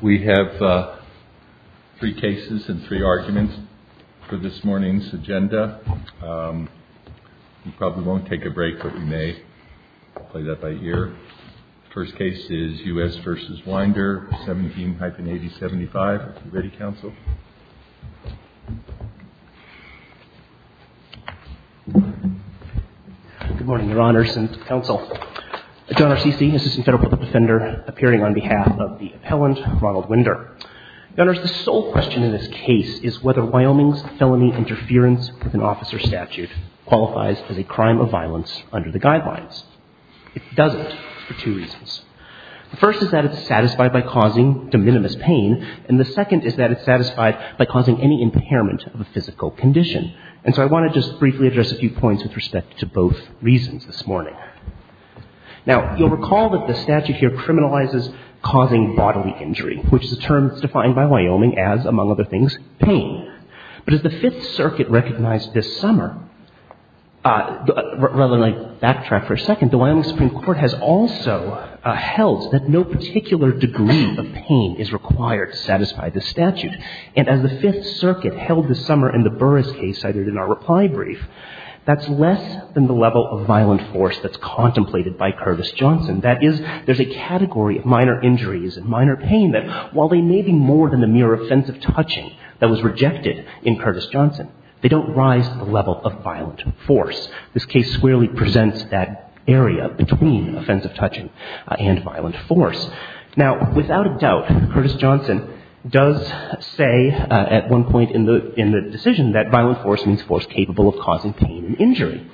We have three cases and three arguments for this morning's agenda. We probably won't take a break, but we may play that by ear. The first case is U.S. v. Winder, 17-8075. Are you ready, Counsel? Good morning, Your Honors, and Counsel. John R. Ceci, Assistant Federal Court Defender, appearing on behalf of the appellant, Ronald Winder. Your Honors, the sole question in this case is whether Wyoming's felony interference with an officer's statute qualifies as a crime of violence under the guidelines. It doesn't for two reasons. The first is that it's satisfied by causing de minimis pain, and the second is that it's satisfied by causing any impairment of a physical condition. And so I want to just briefly address a few points with respect to both reasons this morning. Now, you'll recall that the statute here criminalizes causing bodily injury, which is a term that's defined by Wyoming as, among other things, pain. But as the Fifth Circuit recognized this summer, rather than I backtrack for a second, the Wyoming Supreme Court has also held that no particular degree of pain is required to satisfy the statute. And as the Fifth Circuit held this summer in the Burris case cited in our reply brief, that's less than the level of violent force that's contemplated by Curvis Johnson. That is, there's a category of minor injuries and minor pain that, while they may be more than the mere offensive touching that was rejected in Curtis Johnson, they don't rise to the level of violent force. This case squarely presents that area between offensive touching and violent force. Now, without a doubt, Curtis Johnson does say at one point in the decision that violent force means force capable of causing pain and injury.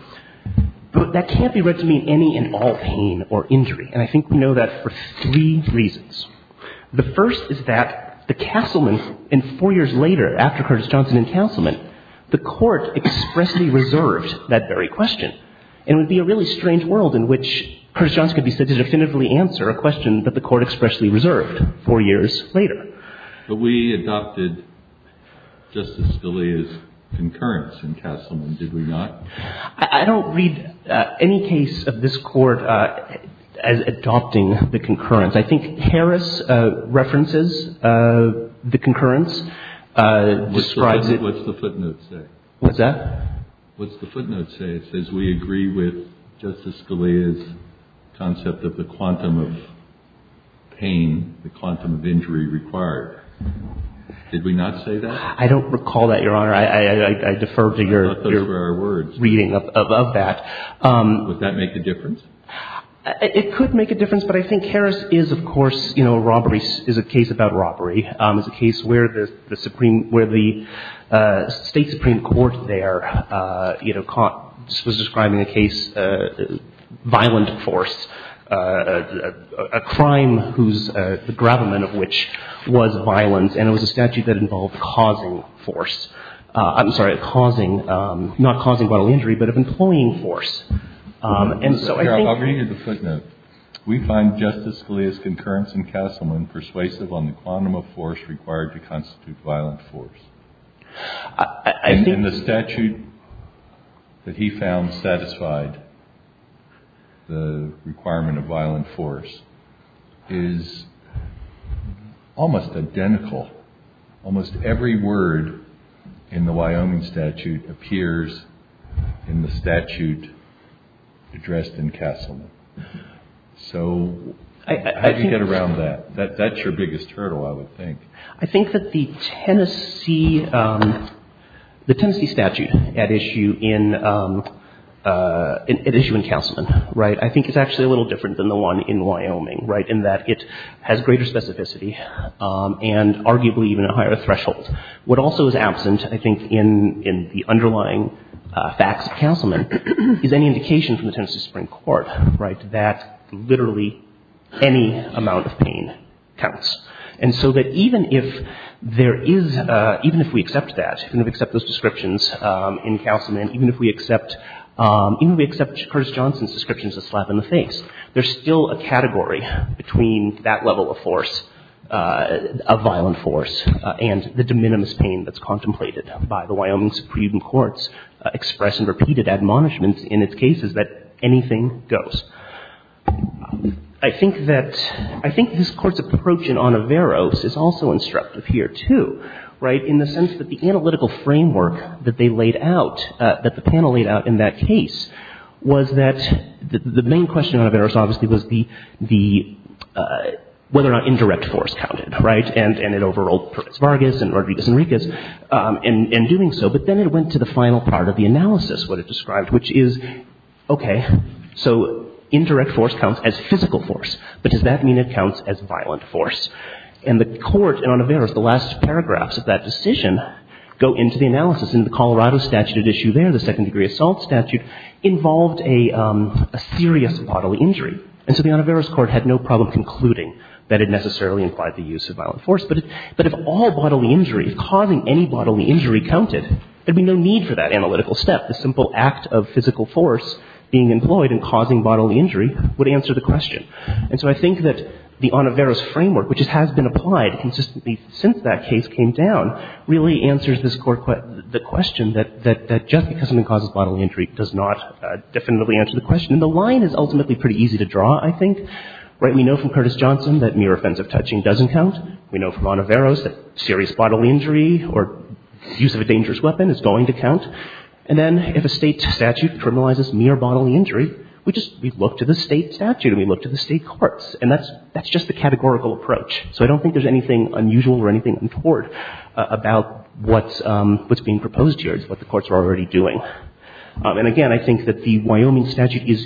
But that can't be read to mean any and all pain or injury. And I think we know that for three reasons. The first is that the Castleman, and four years later, after Curtis Johnson and Castleman, the Court expressly reserved that very question. And it would be a really strange world in which Curtis Johnson could be said to definitively answer a question that the Court expressly reserved four years later. But we adopted Justice Scalia's concurrence in Castleman, did we not? I don't read any case of this Court adopting the concurrence. I think Harris references the concurrence, describes it. What's the footnote say? What's that? What's the footnote say? It says we agree with Justice Scalia's concept of the quantum of pain, the quantum of injury required. Did we not say that? I don't recall that, Your Honor. I defer to your reading of that. It could make a difference. But I think Harris is, of course, you know, a robbery is a case about robbery. It's a case where the Supreme, where the State Supreme Court there, you know, caught, was describing a case, violent force, a crime whose, the grabment of which was violence. And it was a statute that involved causing force. I'm sorry, causing, not causing bodily injury, but of employing force. I'll read you the footnote. We find Justice Scalia's concurrence in Castleman persuasive on the quantum of force required to constitute violent force. And the statute that he found satisfied the requirement of violent force is almost identical. Almost every word in the Wyoming statute appears in the statute addressed in Castleman. So how do you get around that? That's your biggest hurdle, I would think. I think that the Tennessee, the Tennessee statute at issue in, at issue in Castleman, right, I think is actually a little different than the one in Wyoming, right, in that it has greater specificity. And arguably even a higher threshold. What also is absent, I think, in the underlying facts of Castleman is any indication from the Tennessee Supreme Court, right, that literally any amount of pain counts. And so that even if there is, even if we accept that, even if we accept those descriptions in Castleman, even if we accept, even if we accept Curtis Johnson's descriptions that slap in the face, there's still a category between that level of force, of violent force, and the de minimis pain that's contemplated by the Wyoming Supreme Court's express and repeated admonishments in its cases that anything goes. I think that, I think this Court's approach in Onoveros is also instructive here, too, right, in the sense that the analytical framework that they laid out, that the panel laid out in that case, was that the main question on Onoveros obviously was the, the, whether or not indirect force counted, right, and it overruled Perkins-Vargas and Rodriguez-Enriquez in doing so, but then it went to the final part of the analysis, what it described, which is, okay, so indirect force counts as physical force, but does that mean it counts as violent force? And the Court in Onoveros, the last paragraphs of that decision go into the analysis, and the Colorado statute at issue there, the second-degree assault statute, involved a serious bodily injury. And so the Onoveros Court had no problem concluding that it necessarily implied the use of violent force. But if all bodily injury, if causing any bodily injury counted, there would be no need for that analytical step. The simple act of physical force being employed in causing bodily injury would answer the question. And so I think that the Onoveros framework, which has been applied consistently since that case came down, really answers this Court, the question that just because something causes bodily injury does not definitively answer the question. And the line is ultimately pretty easy to draw, I think. We know from Curtis Johnson that mere offensive touching doesn't count. We know from Onoveros that serious bodily injury or use of a dangerous weapon is going to count. And then if a State statute criminalizes mere bodily injury, we just, we look to the State statute and we look to the State courts. And that's just the categorical approach. So I don't think there's anything unusual or anything untoward about what's being proposed here. It's what the courts are already doing. And, again, I think that the Wyoming statute is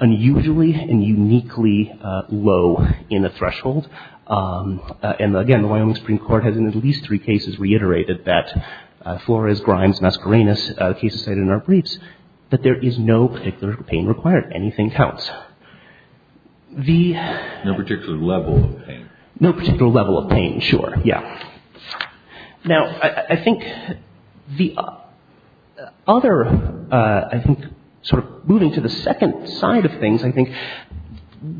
unusually and uniquely low in the threshold. And, again, the Wyoming Supreme Court has in at least three cases reiterated that Flores, Grimes, Mascarenas, the cases cited in our briefs, that there is no particular pain required. Anything counts. The — No particular level of pain. No particular level of pain, sure, yeah. Now, I think the other, I think, sort of moving to the second side of things, I think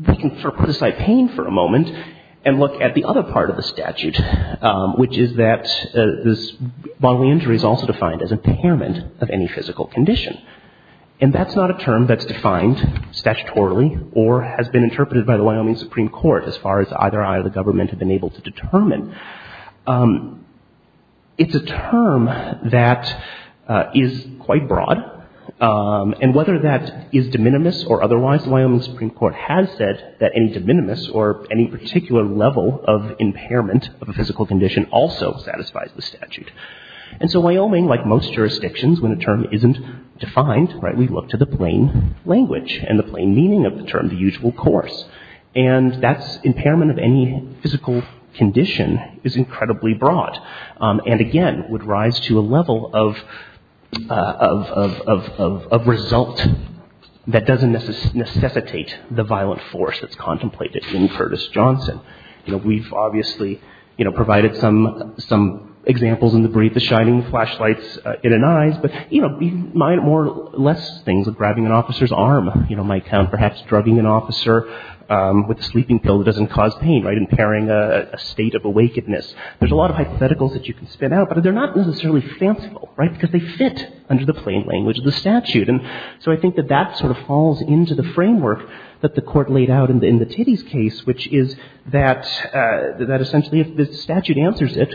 we can sort of put aside pain for a moment and look at the other part of the statute, which is that this bodily injury is also defined as impairment of any physical condition. And that's not a term that's defined statutorily or has been interpreted by the Wyoming Supreme Court as far as either I or the government have been able to determine. It's a term that is quite broad. And whether that is de minimis or otherwise, the Wyoming Supreme Court has said that any de minimis or any particular level of impairment of a physical condition also satisfies the statute. And so Wyoming, like most jurisdictions, when a term isn't defined, right, we look to the plain language and the plain meaning of the term, the usual course. And that's impairment of any physical condition is incredibly broad and, again, would rise to a level of result that doesn't necessitate the violent force that's contemplated in Curtis Johnson. You know, we've obviously, you know, provided some examples in the brief, the shining flashlights in an eyes, but, you know, more or less things like grabbing an officer's arm, you know, might count. Perhaps drugging an officer with a sleeping pill doesn't cause pain, right, impairing a state of awakeness. There's a lot of hypotheticals that you can spin out, but they're not necessarily fanciful, right, because they fit under the plain language of the statute. And so I think that that sort of falls into the framework that the Court laid out in the Tiddy's case, which is that essentially if the statute answers it,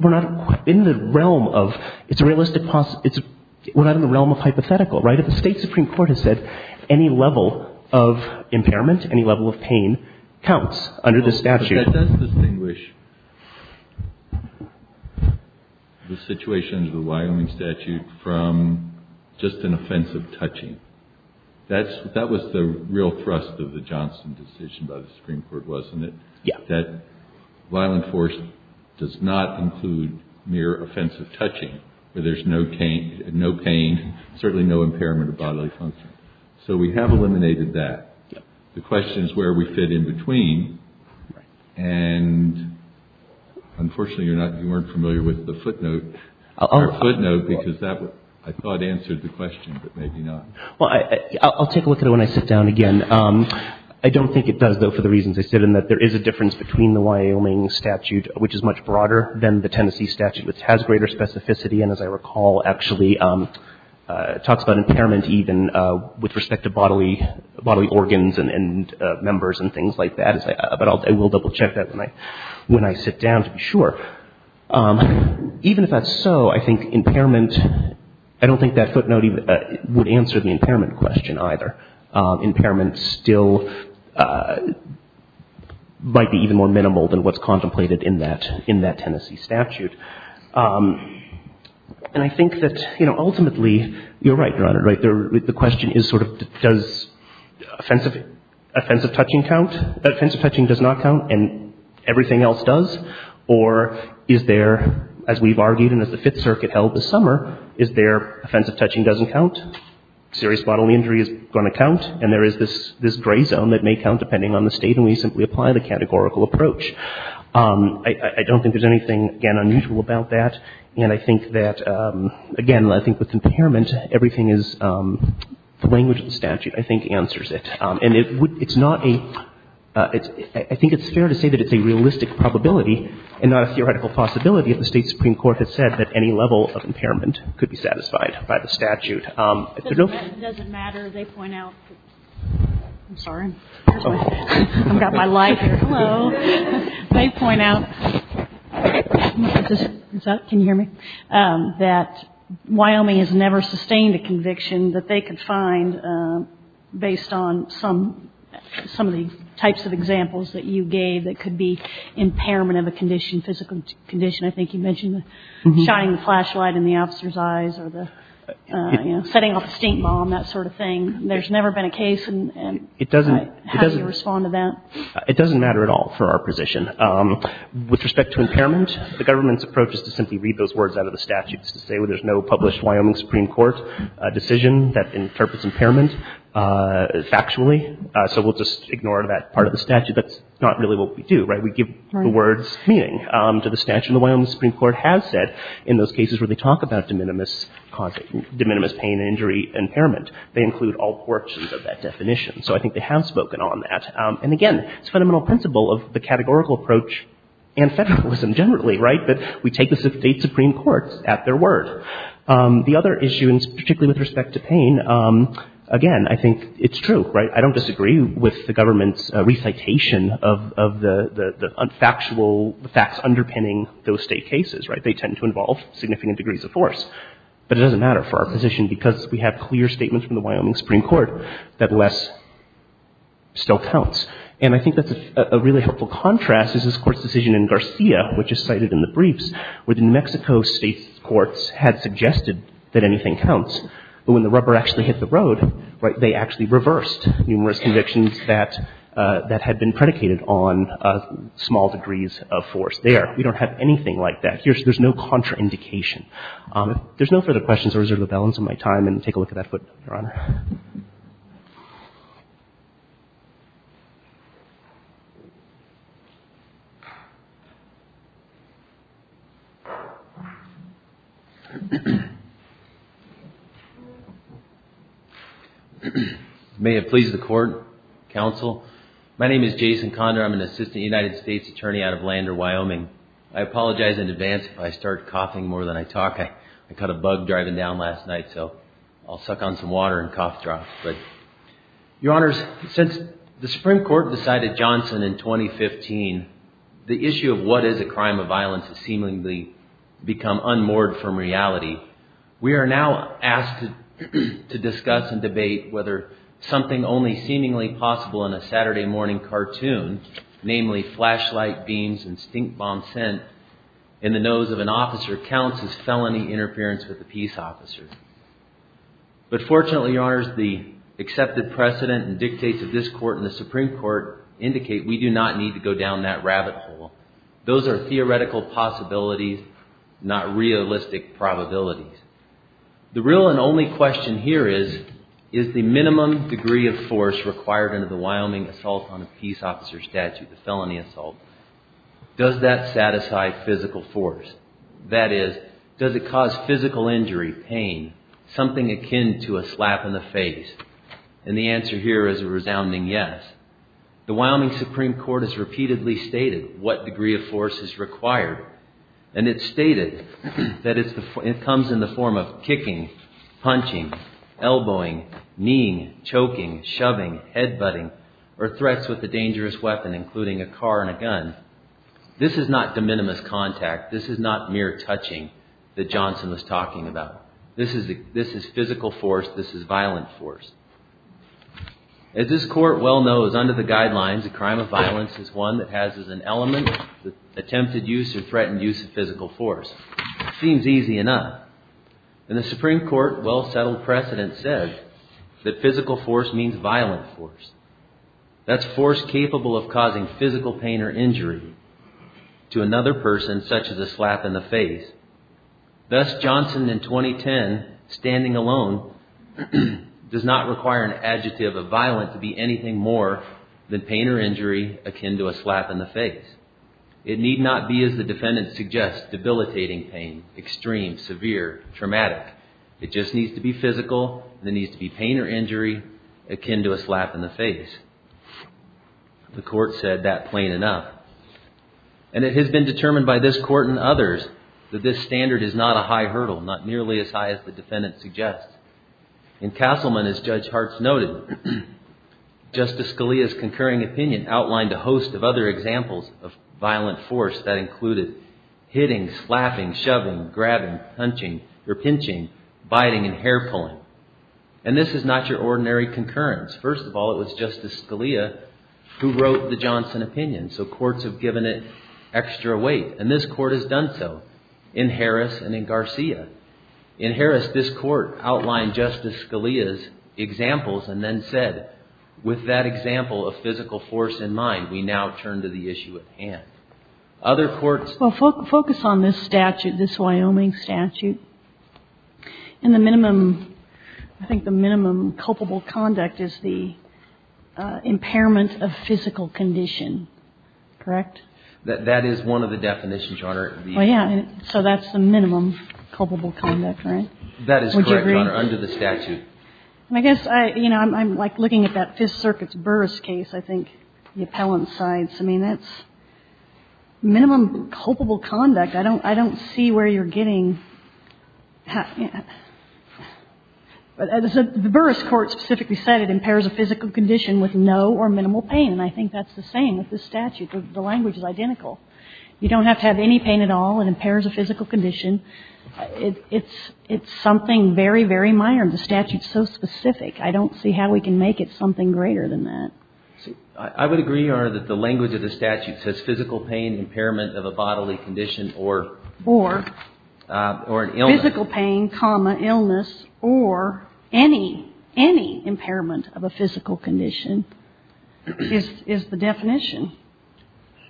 we're not in the realm of, it's a realistic, we're not in the realm of hypothetical, right? If the State Supreme Court has said any level of impairment, any level of pain counts under the statute. That does distinguish the situation under the Wyoming statute from just an offensive touching. That was the real thrust of the Johnson decision by the Supreme Court, wasn't it, that violent force does not include mere offensive touching, where there's no pain, certainly no impairment of bodily function. So we have eliminated that. The question is where we fit in between, and unfortunately you're not, you weren't familiar with the footnote. The footnote, because that, I thought, answered the question, but maybe not. Well, I'll take a look at it when I sit down again. I don't think it does, though, for the reasons I said, in that there is a difference between the Wyoming statute, which is much broader than the Tennessee statute, which has greater specificity, and again, as I recall, actually talks about impairment even with respect to bodily organs and members and things like that. But I will double-check that when I sit down to be sure. Even if that's so, I think impairment, I don't think that footnote would answer the impairment question either. Impairment still might be even more minimal than what's contemplated in that Tennessee statute. And I think that, you know, ultimately, you're right, Your Honor, right? The question is sort of does offensive touching count? Offensive touching does not count, and everything else does? Or is there, as we've argued and as the Fifth Circuit held this summer, is there offensive touching doesn't count? Serious bodily injury is going to count, and there is this gray zone that may count depending on the state, and we simply apply the categorical approach. I don't think there's anything, again, unusual about that. And I think that, again, I think with impairment, everything is the language of the statute, I think, answers it. And it's not a — I think it's fair to say that it's a realistic probability and not a theoretical possibility if the State Supreme Court has said that any level of impairment could be satisfied by the statute. It doesn't matter. They point out — I'm sorry. I've got my light here. Hello. They point out — can you hear me? — that Wyoming has never sustained a conviction that they could find based on some of the types of examples that you gave that could be impairment of a condition, I think you mentioned shining the flashlight in the officer's eyes or the — you know, setting off a stink bomb, that sort of thing. There's never been a case and — It doesn't —— how do you respond to that? It doesn't matter at all for our position. With respect to impairment, the government's approach is to simply read those words out of the statute. It's to say there's no published Wyoming Supreme Court decision that interprets impairment factually, so we'll just ignore that part of the statute. That's not really what we do, right? We give the words meaning to the statute. The Wyoming Supreme Court has said in those cases where they talk about de minimis pain and injury impairment, they include all portions of that definition. So I think they have spoken on that. And again, it's a fundamental principle of the categorical approach and federalism generally, right? But we take the State Supreme Court at their word. The other issue, and particularly with respect to pain, again, I think it's true, right? I don't disagree with the government's recitation of the factual facts underpinning those State cases, right? They tend to involve significant degrees of force. But it doesn't matter for our position because we have clear statements from the Wyoming Supreme Court that less still counts. And I think that's a really helpful contrast is this Court's decision in Garcia, which is cited in the briefs, where the New Mexico State courts had suggested that anything counts, but when the rubber actually hit the road, right, they actually reversed numerous convictions that had been predicated on small degrees of force there. We don't have anything like that. There's no contraindication. If there's no further questions, I'll reserve the balance of my time and take a look at that footnote, Your Honor. May it please the Court, Counsel. My name is Jason Condor. I'm an assistant United States attorney out of Lander, Wyoming. I apologize in advance if I start coughing more than I talk. I caught a bug driving down last night, so I'll suck on some water and cough drops. Your Honors, since the Supreme Court decided Johnson in 2015, the issue of what is a crime of violence has seemingly become unmoored from reality. We are now asked to discuss and debate whether something only seemingly possible in a Saturday morning cartoon, namely flashlight beams and stink bomb scent in the nose of an officer counts as felony interference with a peace officer. But fortunately, Your Honors, the accepted precedent and dictates of this Court and the Supreme Court indicate we do not need to go down that rabbit hole. Those are theoretical possibilities, not realistic probabilities. The real and only question here is, is the minimum degree of force required under the Wyoming assault on a peace officer statute, the felony assault, does that satisfy physical force? That is, does it cause physical injury, pain, something akin to a slap in the face? And the answer here is a resounding yes. The Wyoming Supreme Court has repeatedly stated what degree of force is required. And it's stated that it comes in the form of kicking, punching, elbowing, kneeing, choking, shoving, headbutting, or threats with a dangerous weapon, including a car and a gun. This is not de minimis contact. This is not mere touching that Johnson was talking about. This is physical force. This is violent force. As this Court well knows, under the guidelines, a crime of violence is one that has as an element attempted use or threatened use of physical force. It seems easy enough. And the Supreme Court well-settled precedent said that physical force means violent force. That's force capable of causing physical pain or injury to another person, such as a slap in the face. Thus, Johnson, in 2010, standing alone, does not require an adjective of violent to be anything more than pain or injury akin to a slap in the face. It need not be, as the defendant suggests, debilitating pain, extreme, severe, traumatic. It just needs to be physical. There needs to be pain or injury akin to a slap in the face. The Court said that plain enough. And it has been determined by this Court and others that this standard is not a high hurdle, not nearly as high as the defendant suggests. In Castleman, as Judge Hartz noted, Justice Scalia's concurring opinion outlined a host of other examples of violent force. That included hitting, slapping, shoving, grabbing, punching, or pinching, biting, and hair pulling. And this is not your ordinary concurrence. First of all, it was Justice Scalia who wrote the Johnson opinion. So courts have given it extra weight. And this Court has done so in Harris and in Garcia. In Harris, this Court outlined Justice Scalia's examples and then said, with that example of physical force in mind, we now turn to the issue at hand. Other courts? Well, focus on this statute, this Wyoming statute. In the minimum, I think the minimum culpable conduct is the impairment of physical condition. Correct? That is one of the definitions, Your Honor. Well, yeah. So that's the minimum culpable conduct, right? That is correct, Your Honor, under the statute. And I guess, you know, I'm like looking at that Fifth Circuit's Burris case, I think, the appellant sides. I mean, that's minimum culpable conduct. I don't see where you're getting that. But as the Burris court specifically said, it impairs a physical condition with no or minimal pain. And I think that's the same with this statute. The language is identical. You don't have to have any pain at all. It impairs a physical condition. It's something very, very minor. And the statute's so specific, I don't see how we can make it something greater than that. I would agree, Your Honor, that the language of the statute says physical pain, impairment of a bodily condition, or an illness. Physical pain, illness, or any impairment of a physical condition is the definition.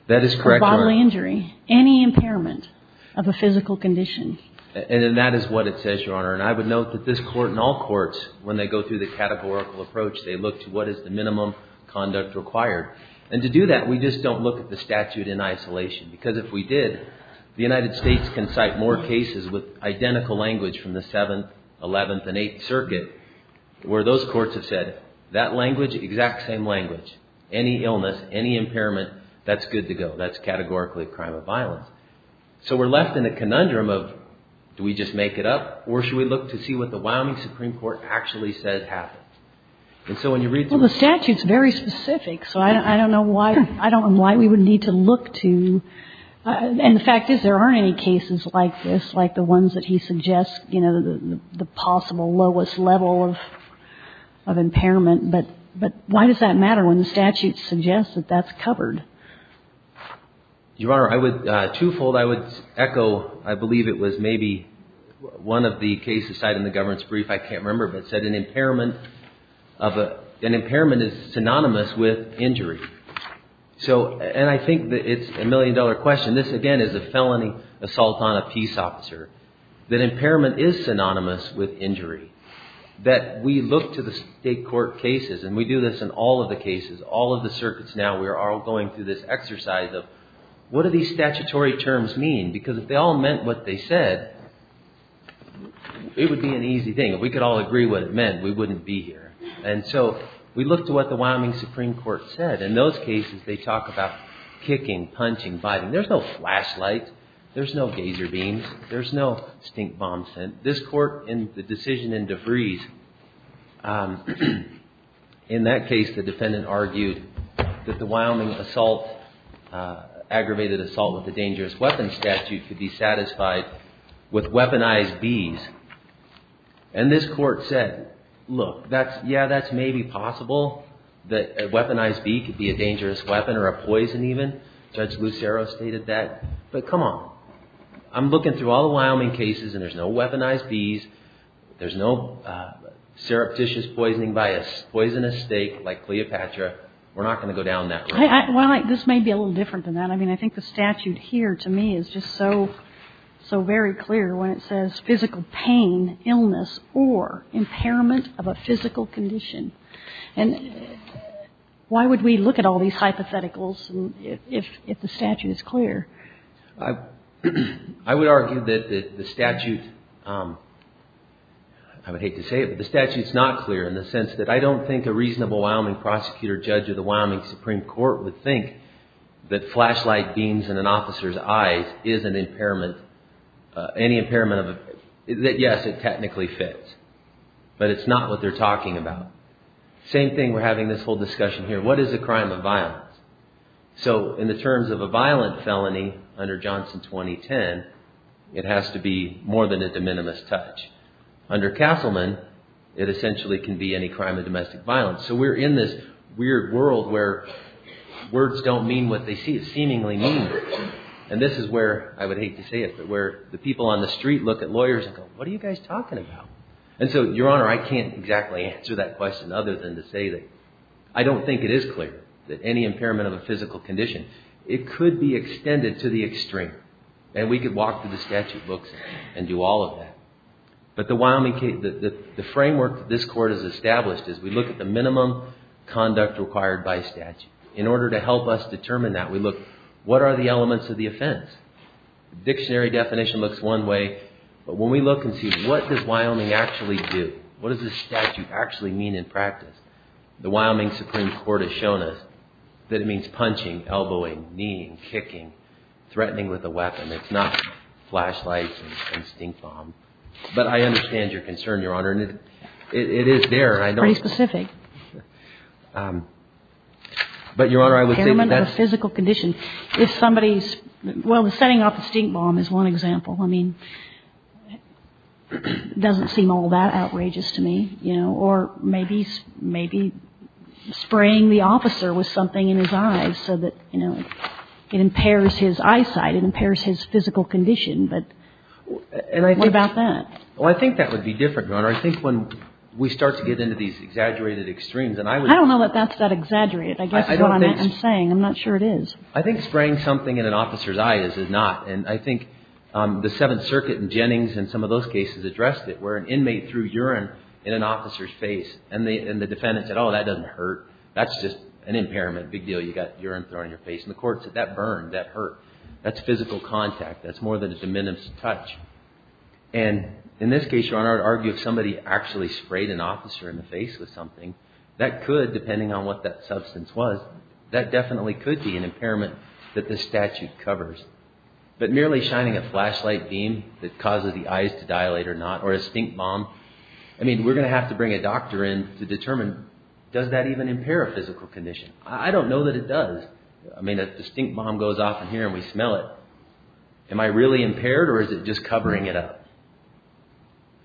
That is correct, Your Honor. Or bodily injury. Any impairment of a physical condition. And that is what it says, Your Honor. And I would note that this court and all courts, when they go through the categorical approach, they look to what is the minimum conduct required. And to do that, we just don't look at the statute in isolation. Because if we did, the United States can cite more cases with identical language from the 7th, 11th, and 8th Circuit, where those courts have said, that language, exact same language. Any illness, any impairment, that's good to go. That's categorically a crime of violence. So we're left in a conundrum of, do we just make it up? Or should we look to see what the Wyoming Supreme Court actually says happens? And so when you read through it. Well, the statute's very specific. So I don't know why we would need to look to. And the fact is, there aren't any cases like this, like the ones that he suggests, you know, the possible lowest level of impairment. But why does that matter when the statute suggests that that's covered? Your Honor, twofold I would echo, I believe it was maybe one of the cases cited in the governance brief, I can't remember, but it said an impairment is synonymous with injury. And I think it's a million dollar question. This, again, is a felony assault on a peace officer. That impairment is synonymous with injury. That we look to the state court cases, and we do this in all of the cases, all of the circuits now, we are all going through this exercise of, what do these statutory terms mean? Because if they all meant what they said, it would be an easy thing. If we could all agree what it meant, we wouldn't be here. And so we look to what the Wyoming Supreme Court said. In those cases, they talk about kicking, punching, biting. There's no flashlight. There's no gazer beams. There's no stink bomb scent. This court, in the decision in DeVries, in that case the defendant argued that the Wyoming assault, aggravated assault with a dangerous weapon statute could be satisfied with weaponized bees. And this court said, look, yeah, that's maybe possible, that a weaponized bee could be a dangerous weapon or a poison even. Judge Lucero stated that. But come on. I'm looking through all the Wyoming cases, and there's no weaponized bees. There's no surreptitious poisoning by a poisonous steak like Cleopatra. We're not going to go down that road. Well, this may be a little different than that. I mean, I think the statute here, to me, is just so very clear when it says physical pain, illness, or impairment of a physical condition. And why would we look at all these hypotheticals if the statute is clear? I would argue that the statute, I would hate to say it, but the statute is not clear in the sense that I don't think a reasonable Wyoming prosecutor, judge of the Wyoming Supreme Court would think that flashlight beams in an officer's eyes is an impairment, any impairment of a, that yes, it technically fits. But it's not what they're talking about. Same thing, we're having this whole discussion here. What is a crime of violence? So in the terms of a violent felony under Johnson 2010, it has to be more than a de minimis touch. Under Castleman, it essentially can be any crime of domestic violence. So we're in this weird world where words don't mean what they seemingly mean. And this is where, I would hate to say it, but where the people on the street look at lawyers and go, what are you guys talking about? And so, Your Honor, I can't exactly answer that question other than to say that I don't think it is clear that any impairment of a physical condition, it could be extended to the extreme. And we could walk through the statute books and do all of that. But the framework that this court has established is we look at the minimum conduct required by statute. In order to help us determine that, we look, what are the elements of the offense? Dictionary definition looks one way. But when we look and see, what does Wyoming actually do? What does this statute actually mean in practice? The Wyoming Supreme Court has shown us that it means punching, elbowing, kneeing, kicking, threatening with a weapon. It's not flashlights and stink bombs. But I understand your concern, Your Honor. And it is there. Very specific. But, Your Honor, I would say that that's... Impairment of a physical condition. If somebody's, well, setting off a stink bomb is one example. I mean, it doesn't seem all that outrageous to me, you know. Or maybe spraying the officer with something in his eyes so that, you know, it impairs his eyesight. It impairs his physical condition. But what about that? Well, I think that would be different, Your Honor. I think when we start to get into these exaggerated extremes, and I would... I don't know that that's that exaggerated. I guess that's what I'm saying. I'm not sure it is. I think spraying something in an officer's eyes is not. And I think the Seventh Circuit and Jennings and some of those cases addressed it, where an inmate threw urine in an officer's face. And the defendant said, oh, that doesn't hurt. That's just an impairment. Big deal. You got urine thrown in your face. And the court said, that burned. That hurt. That's physical contact. That's more than a diminutive touch. And in this case, Your Honor, I would argue if somebody actually sprayed an officer in the face with something, that could, depending on what that substance was, that definitely could be an impairment that this statute covers. But merely shining a flashlight beam that causes the eyes to dilate or not, or a stink bomb, I mean, we're going to have to bring a doctor in to determine, does that even impair a physical condition? I don't know that it does. I mean, a stink bomb goes off in here and we smell it. Am I really impaired or is it just covering it up?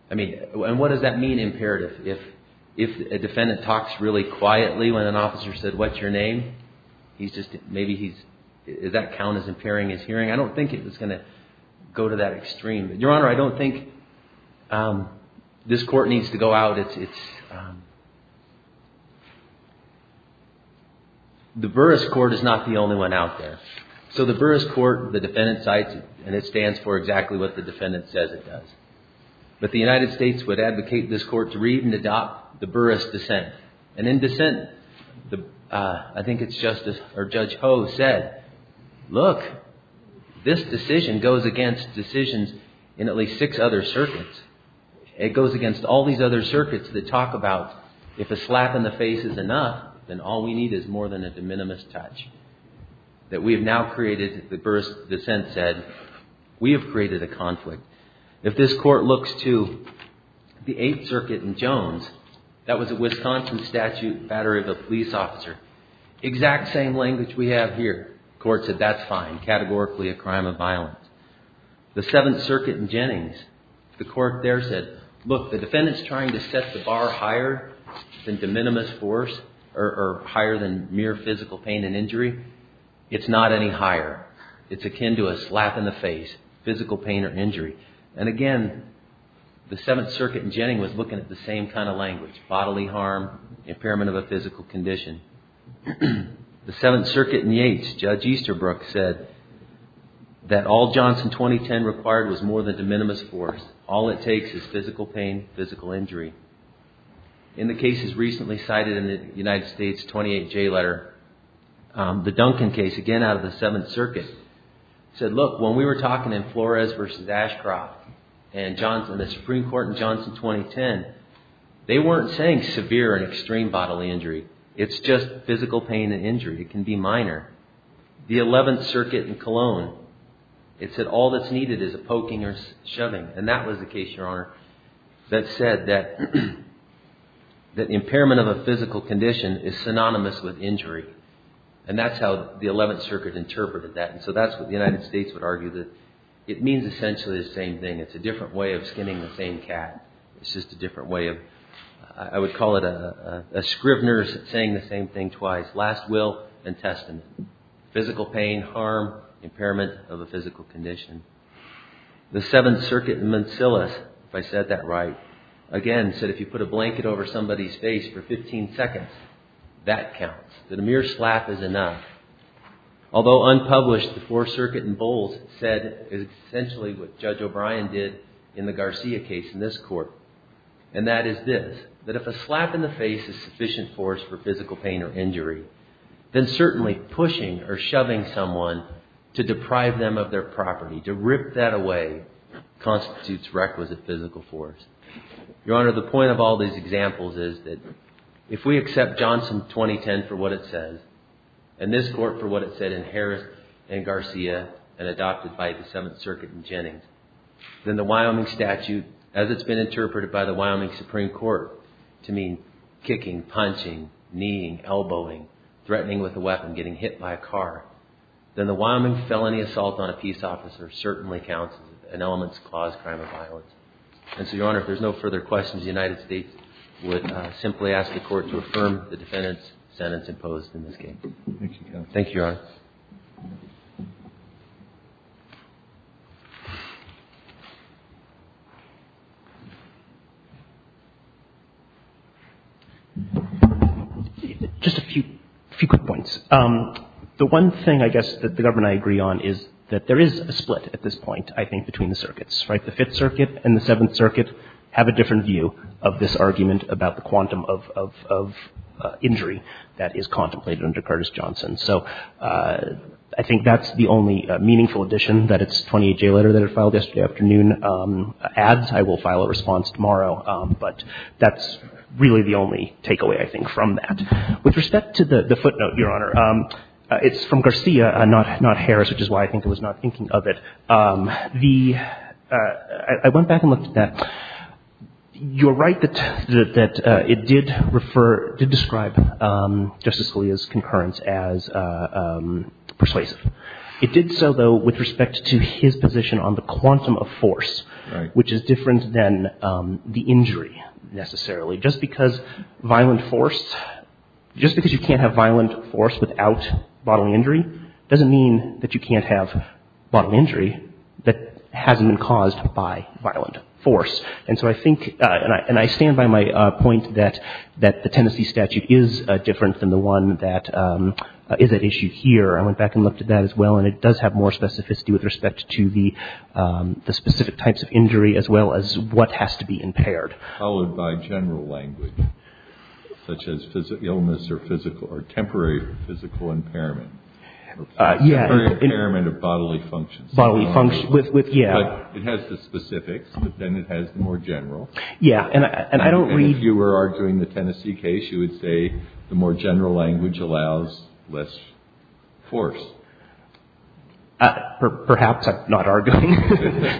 I mean, and what does that mean, imperative? If a defendant talks really quietly when an officer said, what's your name? He's just, maybe he's, does that count as impairing his hearing? I don't think it's going to go to that extreme. Your Honor, I don't think this court needs to go out. It's, the Burris Court is not the only one out there. So the Burris Court, the defendant cites it, and it stands for exactly what the defendant says it does. But the United States would advocate this court to read and adopt the Burris dissent. And in dissent, I think it's Justice, or Judge Ho said, look, this decision goes against decisions in at least six other circuits. It goes against all these other circuits that talk about if a slap in the face is enough, then all we need is more than a de minimis touch. That we have now created, the Burris dissent said, we have created a conflict. If this court looks to the Eighth Circuit in Jones, that was a Wisconsin statute battery of a police officer. Exact same language we have here. The court said, that's fine, categorically a crime of violence. The Seventh Circuit in Jennings, the court there said, look, the defendant's trying to set the bar higher than de minimis force, or higher than mere physical pain and injury. It's not any higher. It's akin to a slap in the face, physical pain or injury. And again, the Seventh Circuit in Jennings was looking at the same kind of language. Bodily harm, impairment of a physical condition. The Seventh Circuit in Yates, Judge Easterbrook said, that all Johnson 2010 required was more than de minimis force. All it takes is physical pain, physical injury. In the cases recently cited in the United States 28J letter, the Duncan case, again out of the Seventh Circuit, said, look, when we were talking in Flores versus Ashcroft, and the Supreme Court in Johnson 2010, they weren't saying severe and extreme bodily injury. It's just physical pain and injury. It can be minor. The Eleventh Circuit in Cologne, it said all that's needed is a poking or shoving. And that was the case, Your Honor, that said that impairment of a physical condition is synonymous with injury. And that's how the Eleventh Circuit interpreted that. And so that's what the United States would argue, that it means essentially the same thing. It's a different way of skinning the same cat. It's just a different way of, I would call it a scrivener saying the same thing twice. Last will and testament. Physical pain, harm, impairment of a physical condition. The Seventh Circuit in Manzillas, if I said that right, again said if you put a blanket over somebody's face for 15 seconds, that counts, that a mere slap is enough. Although unpublished, the Fourth Circuit in Bowles said essentially what Judge O'Brien did in the Garcia case in this court. And that is this, that if a slap in the face is sufficient force for physical pain or injury, then certainly pushing or shoving someone to deprive them of their property, to rip that away, constitutes requisite physical force. Your Honor, the point of all these examples is that if we accept Johnson 2010 for what it says, and this court for what it said in Harris and Garcia and adopted by the Seventh Circuit in Jennings, then the Wyoming statute, as it's been interpreted by the Wyoming Supreme Court to mean kicking, punching, kneeing, elbowing, threatening with a weapon, getting hit by a car, then the Wyoming felony assault on a peace officer certainly counts as an elements-clause crime of violence. And so, Your Honor, if there's no further questions, the United States would simply ask the Court to affirm the defendant's sentence imposed in this case. Thank you, Your Honor. Just a few quick points. The one thing, I guess, that the government and I agree on is that there is a split at this point, I think, between the circuits. Right? The Fifth Circuit and the Seventh Circuit have a different view of this argument about the quantum of injury that is contemplated under Curtis Johnson. So I think that's the only meaningful addition that its 28-J letter that it filed yesterday afternoon adds. I will file a response tomorrow. But that's really the only takeaway, I think, from that. With respect to the footnote, Your Honor, it's from Garcia, not Harris, which is why I think it was not thinking of it. The — I went back and looked at that. You're right that it did refer — did describe Justice Scalia's concurrence as persuasive. It did so, though, with respect to his position on the quantum of force, which is different than the injury, necessarily. Just because violent force — just because you can't have violent force without bodily injury doesn't mean that you can't have bodily injury that hasn't been caused by violent force. And so I think — and I stand by my point that the Tennessee statute is different than the one that is at issue here. I went back and looked at that as well. And it does have more specificity with respect to the specific types of injury as well as what has to be impaired. Followed by general language, such as illness or physical — or temporary physical impairment. Yeah. Temporary impairment of bodily functions. Bodily functions. With — yeah. It has the specifics, but then it has the more general. Yeah. And I don't read — And if you were arguing the Tennessee case, you would say the more general language allows less force. Perhaps I'm not arguing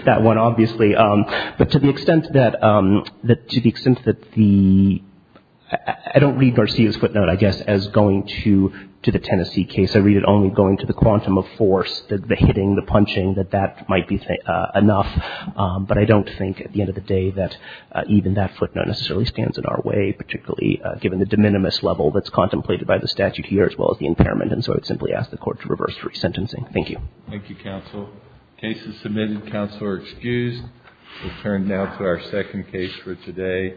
that one, obviously. But to the extent that the — I don't read Garcia's footnote, I guess, as going to the Tennessee case. I read it only going to the quantum of force, the hitting, the punching, that that might be enough. But I don't think at the end of the day that even that footnote necessarily stands in our way, particularly given the de minimis level that's contemplated by the statute here as well as the impairment. And so I would simply ask the Court to reverse re-sentencing. Thank you. Thank you, counsel. The case is submitted. Counsel are excused. We'll turn now to our second case for today.